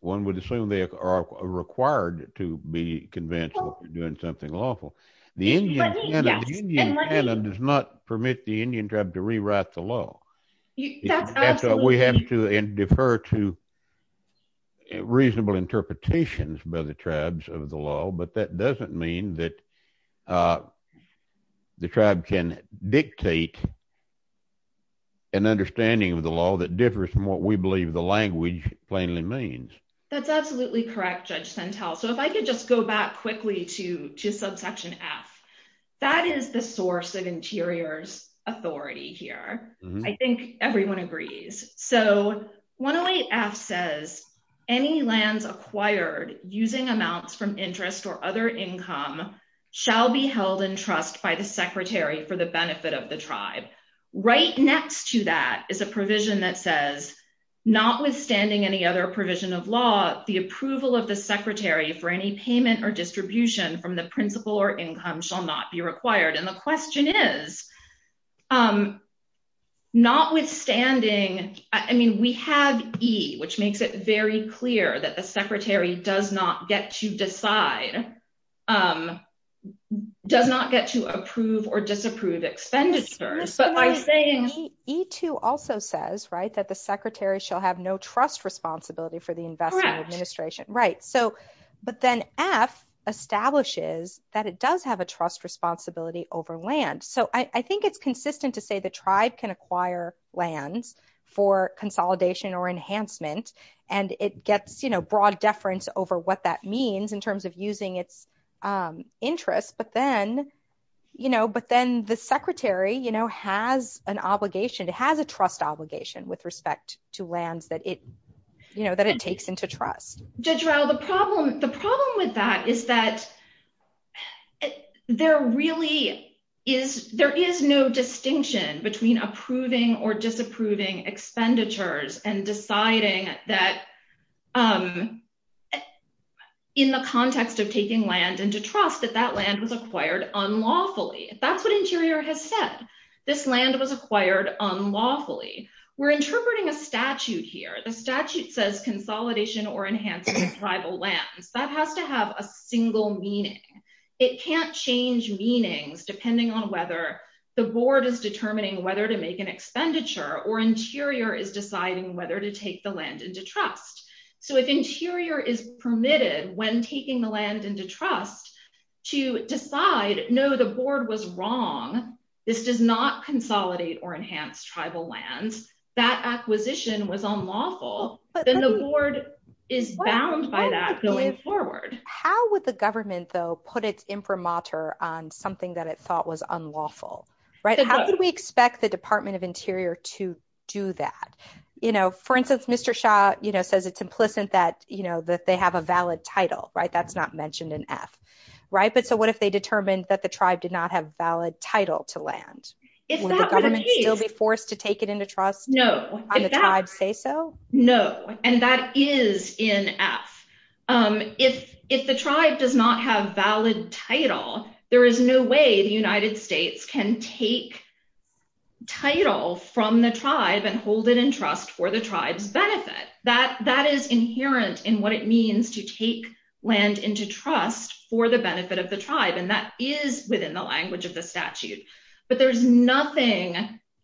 one would assume they are required to be convinced that they're doing something lawful. The Indian canon does not permit the Indian tribe to rewrite the law. That's absolutely true. We have to defer to reasonable interpretations by the tribes of the law, but that doesn't mean that the tribe can dictate an understanding of the law that differs from what we believe the language plainly means. That's absolutely correct, Judge Sentelle. If I could just go back quickly to subsection F, that is the source of interior's authority here. I think everyone agrees. So 108F says, any lands acquired using amounts from interest or other income shall be held in trust by the secretary for the benefit of the tribe. Right next to that is a provision that says, notwithstanding any other provision of law, the approval of the secretary for any payment or distribution from the principal or income shall not be required. And the question is, notwithstanding, I mean, we have E, which makes it very clear that the secretary does not get to decide, does not get to approve or disapprove expenditures, but by saying... E2 also says, right, that the secretary shall have no trust responsibility for the investment administration. Right. So, but then F establishes that it does have a trust responsibility over land. So I think it's consistent to say the tribe can acquire lands for consolidation or enhancement. And it gets, you know, broad deference over what that means in terms of using its interest. But then, you know, but then the secretary, you know, has an obligation. It has a trust obligation with respect to lands that it, you know, that it takes into trust. Judge Rao, the problem with that is that there really is, there is no distinction between approving or disapproving expenditures and deciding that in the context of taking land into trust, that that land was acquired unlawfully. That's what Interior has said. This land was acquired unlawfully. We're interpreting a statute here. The statute says consolidation or enhancing tribal lands. That has to have a single meaning. It can't change meanings depending on whether the board is determining whether to make an expenditure or Interior is deciding whether to take the land into trust. So if Interior is permitted when taking the land into trust to decide, no, the board was wrong. This does not consolidate or enhance tribal lands. That acquisition was unlawful. Then the board is bound by that going forward. How would the government, though, put its imprimatur on something that it thought was unlawful, right? How could we expect the Department of Interior to do that? You know, for instance, Mr. Shah, you know, says it's implicit that, you know, that they have a valid title, right? That's not mentioned in F, right? But so what if they determined that the tribe did not have valid title to land? If that would still be forced to take it into trust? No, I'd say so. No, and that is in F. If the tribe does not have valid title, there is no way the United States can take title from the tribe and hold it in trust for the tribe's benefit. That is inherent in what it means to take land into trust for the benefit of the tribe. And that is within the language of the statute. But there's nothing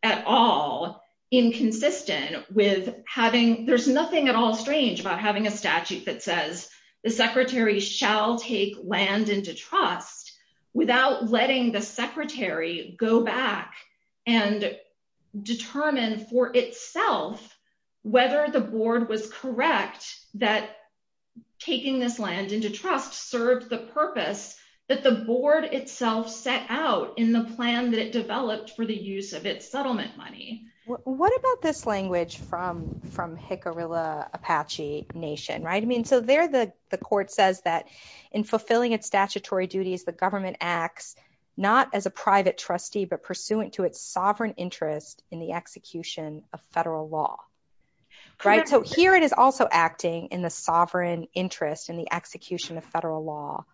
at all inconsistent with having, there's nothing at all strange about having a statute that says the secretary shall take land into trust without letting the secretary go back and determine for itself whether the board was correct that taking this land into trust served the purpose that the board itself set out in the plan that it developed for the use of its settlement money. What about this language from Hikarilla Apache Nation, right? I mean, so there the court says that in fulfilling its statutory duties, the government acts not as a private trustee, but pursuant to its sovereign interest in the execution of federal law, right? So here it is also acting in the sovereign interest in the execution of federal law.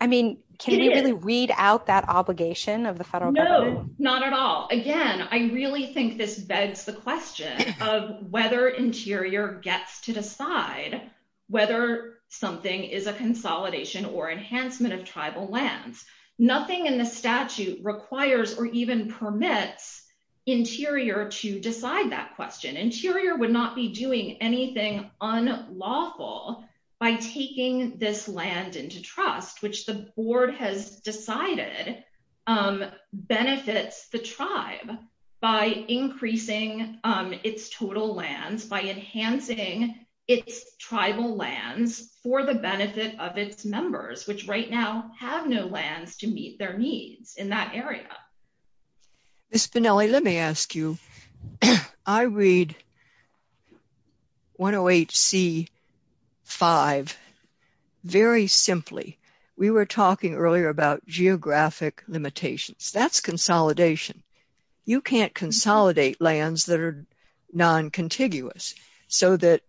I mean, can we really read out that obligation of the federal government? No, not at all. Again, I really think this begs the question of whether Interior gets to decide whether something is a consolidation or enhancement of tribal lands. Nothing in the statute requires or even permits Interior to decide that question. Interior would not be doing anything unlawful by taking this land into trust, which the board has decided benefits the tribe by increasing its total lands, by enhancing its tribal lands for the benefit of its members, which right now have no lands to meet their needs in that area. Ms. Pinelli, let me ask you, I read 108C-5 very simply. We were talking earlier about geographic limitations. That's consolidation. You can't consolidate lands that are non-contiguous so that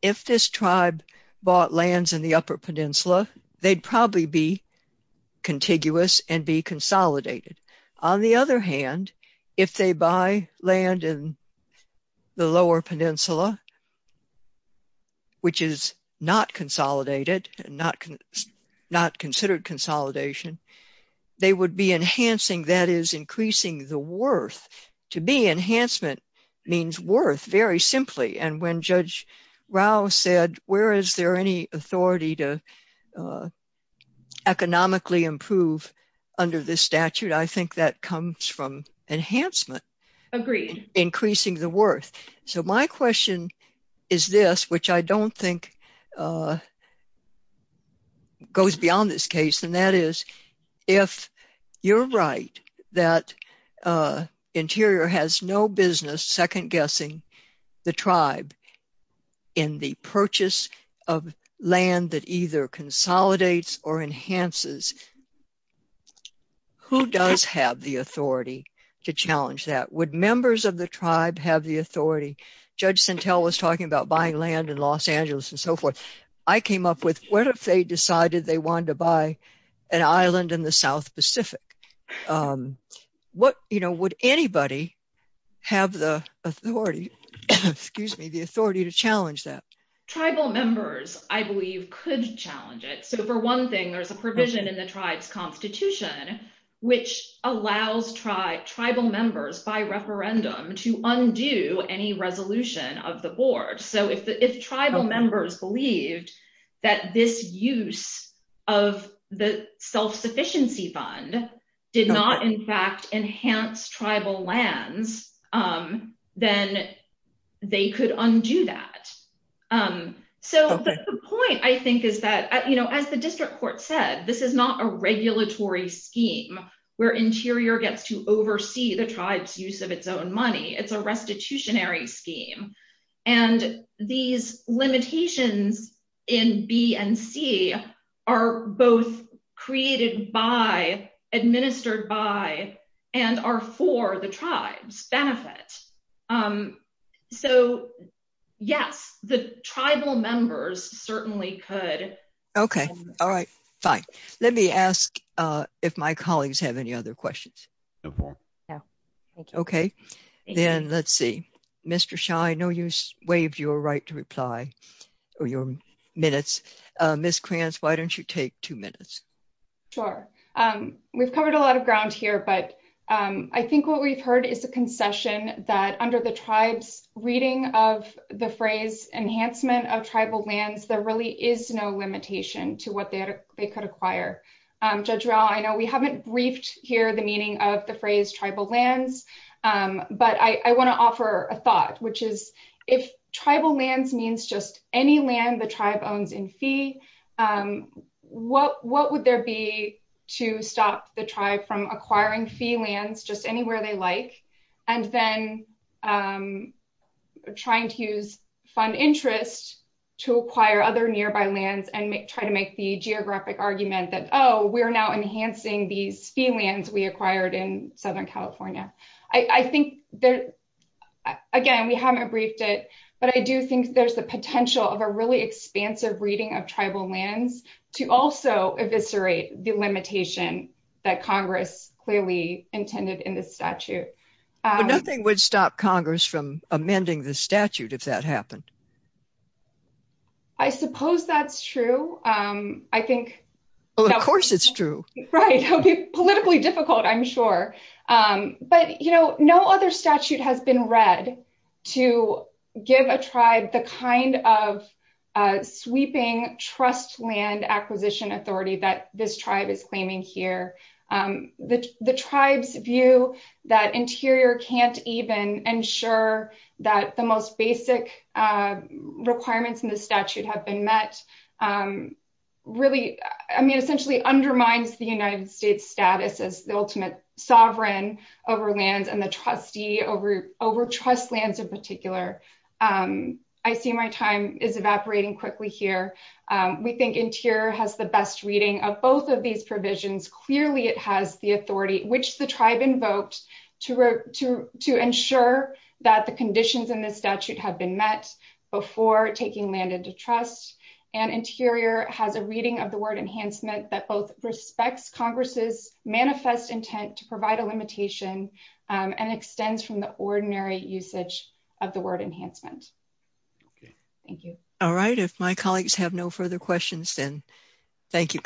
if this tribe bought lands in the Upper Peninsula, they'd probably be contiguous and be consolidated. On the other hand, if they buy land in the Lower Peninsula, which is not consolidated and not considered consolidation, they would be enhancing, that is, increasing the worth. To me, enhancement means worth very simply. And when Judge Rao said, where is there any authority to economically improve under this statute, I think that comes from enhancement. Agreed. Increasing the worth. So my question is this, which I don't think goes beyond this case, and that is, if you're right that Interior has no business second-guessing the tribe in the purchase of land that either consolidates or enhances, who does have the authority to challenge that? Would members of the tribe have the authority? Judge Sintel was talking about buying land in Los Angeles and so forth. I came up with, what if they decided they wanted to buy an island in the South Pacific? Would anybody have the authority to challenge that? Tribal members, I believe, could challenge it. So for one thing, there's a provision in the tribe's constitution which allows tribal members, by referendum, to undo any resolution of the board. So if tribal members believed that this use of the self-sufficiency fund did not, in fact, enhance tribal lands, then they could undo that. So the point, I think, is that, as the district court said, this is not a regulatory scheme where Interior gets to oversee the tribe's use of its own money. It's a restitutionary scheme. And these limitations in B and C are both created by, administered by, and are for the tribe's benefit. So yes, the tribal members certainly could. Okay, all right, fine. Let me ask if my colleagues have any other questions. Okay, then let's see. Mr. Shah, I know you waived your right to reply, or your minutes. Ms. Kranz, why don't you take two minutes? Sure. We've covered a lot of ground here, but I think what we've heard is a concession that under the tribe's reading of the phrase enhancement of tribal lands, there really is no limitation to what they could acquire. Judge Rao, I know we haven't briefed here the meaning of the phrase tribal lands, but I want to offer a thought, which is if tribal lands means just any land the tribe owns in fee, what would there be to stop the tribe from acquiring fee lands, just anywhere they like, and then trying to use fund interest to acquire other nearby lands and try to make the geographic argument that, oh, we're now enhancing these fee lands we acquired in Southern California. Again, we haven't briefed it, but I do think there's the potential of a really expansive reading of tribal lands to also eviscerate the limitation that Congress clearly intended in this statute. But nothing would stop Congress from amending the statute if that happened. I suppose that's true. I think... Well, of course it's true. Right. It'll be politically difficult, I'm sure. But no other statute has been read to give a tribe the kind of sweeping trust land acquisition authority that this tribe is claiming here. The tribe's view that Interior can't even ensure that the most basic requirements in the statute have been met really, I mean, essentially undermines the United States status as the ultimate sovereign over lands and the trustee over trust lands in particular. I see my time is evaporating quickly here. We think Interior has the best reading of both of these provisions. Clearly, it has the authority which the tribe invoked to ensure that the conditions in this statute have been met before taking land into trust. And Interior has a reading of the word enhancement that both respects Congress's manifest intent to provide a limitation and extends from the ordinary usage of the word enhancement. Thank you. All right. If my colleagues have no further questions, then thank you, counsel.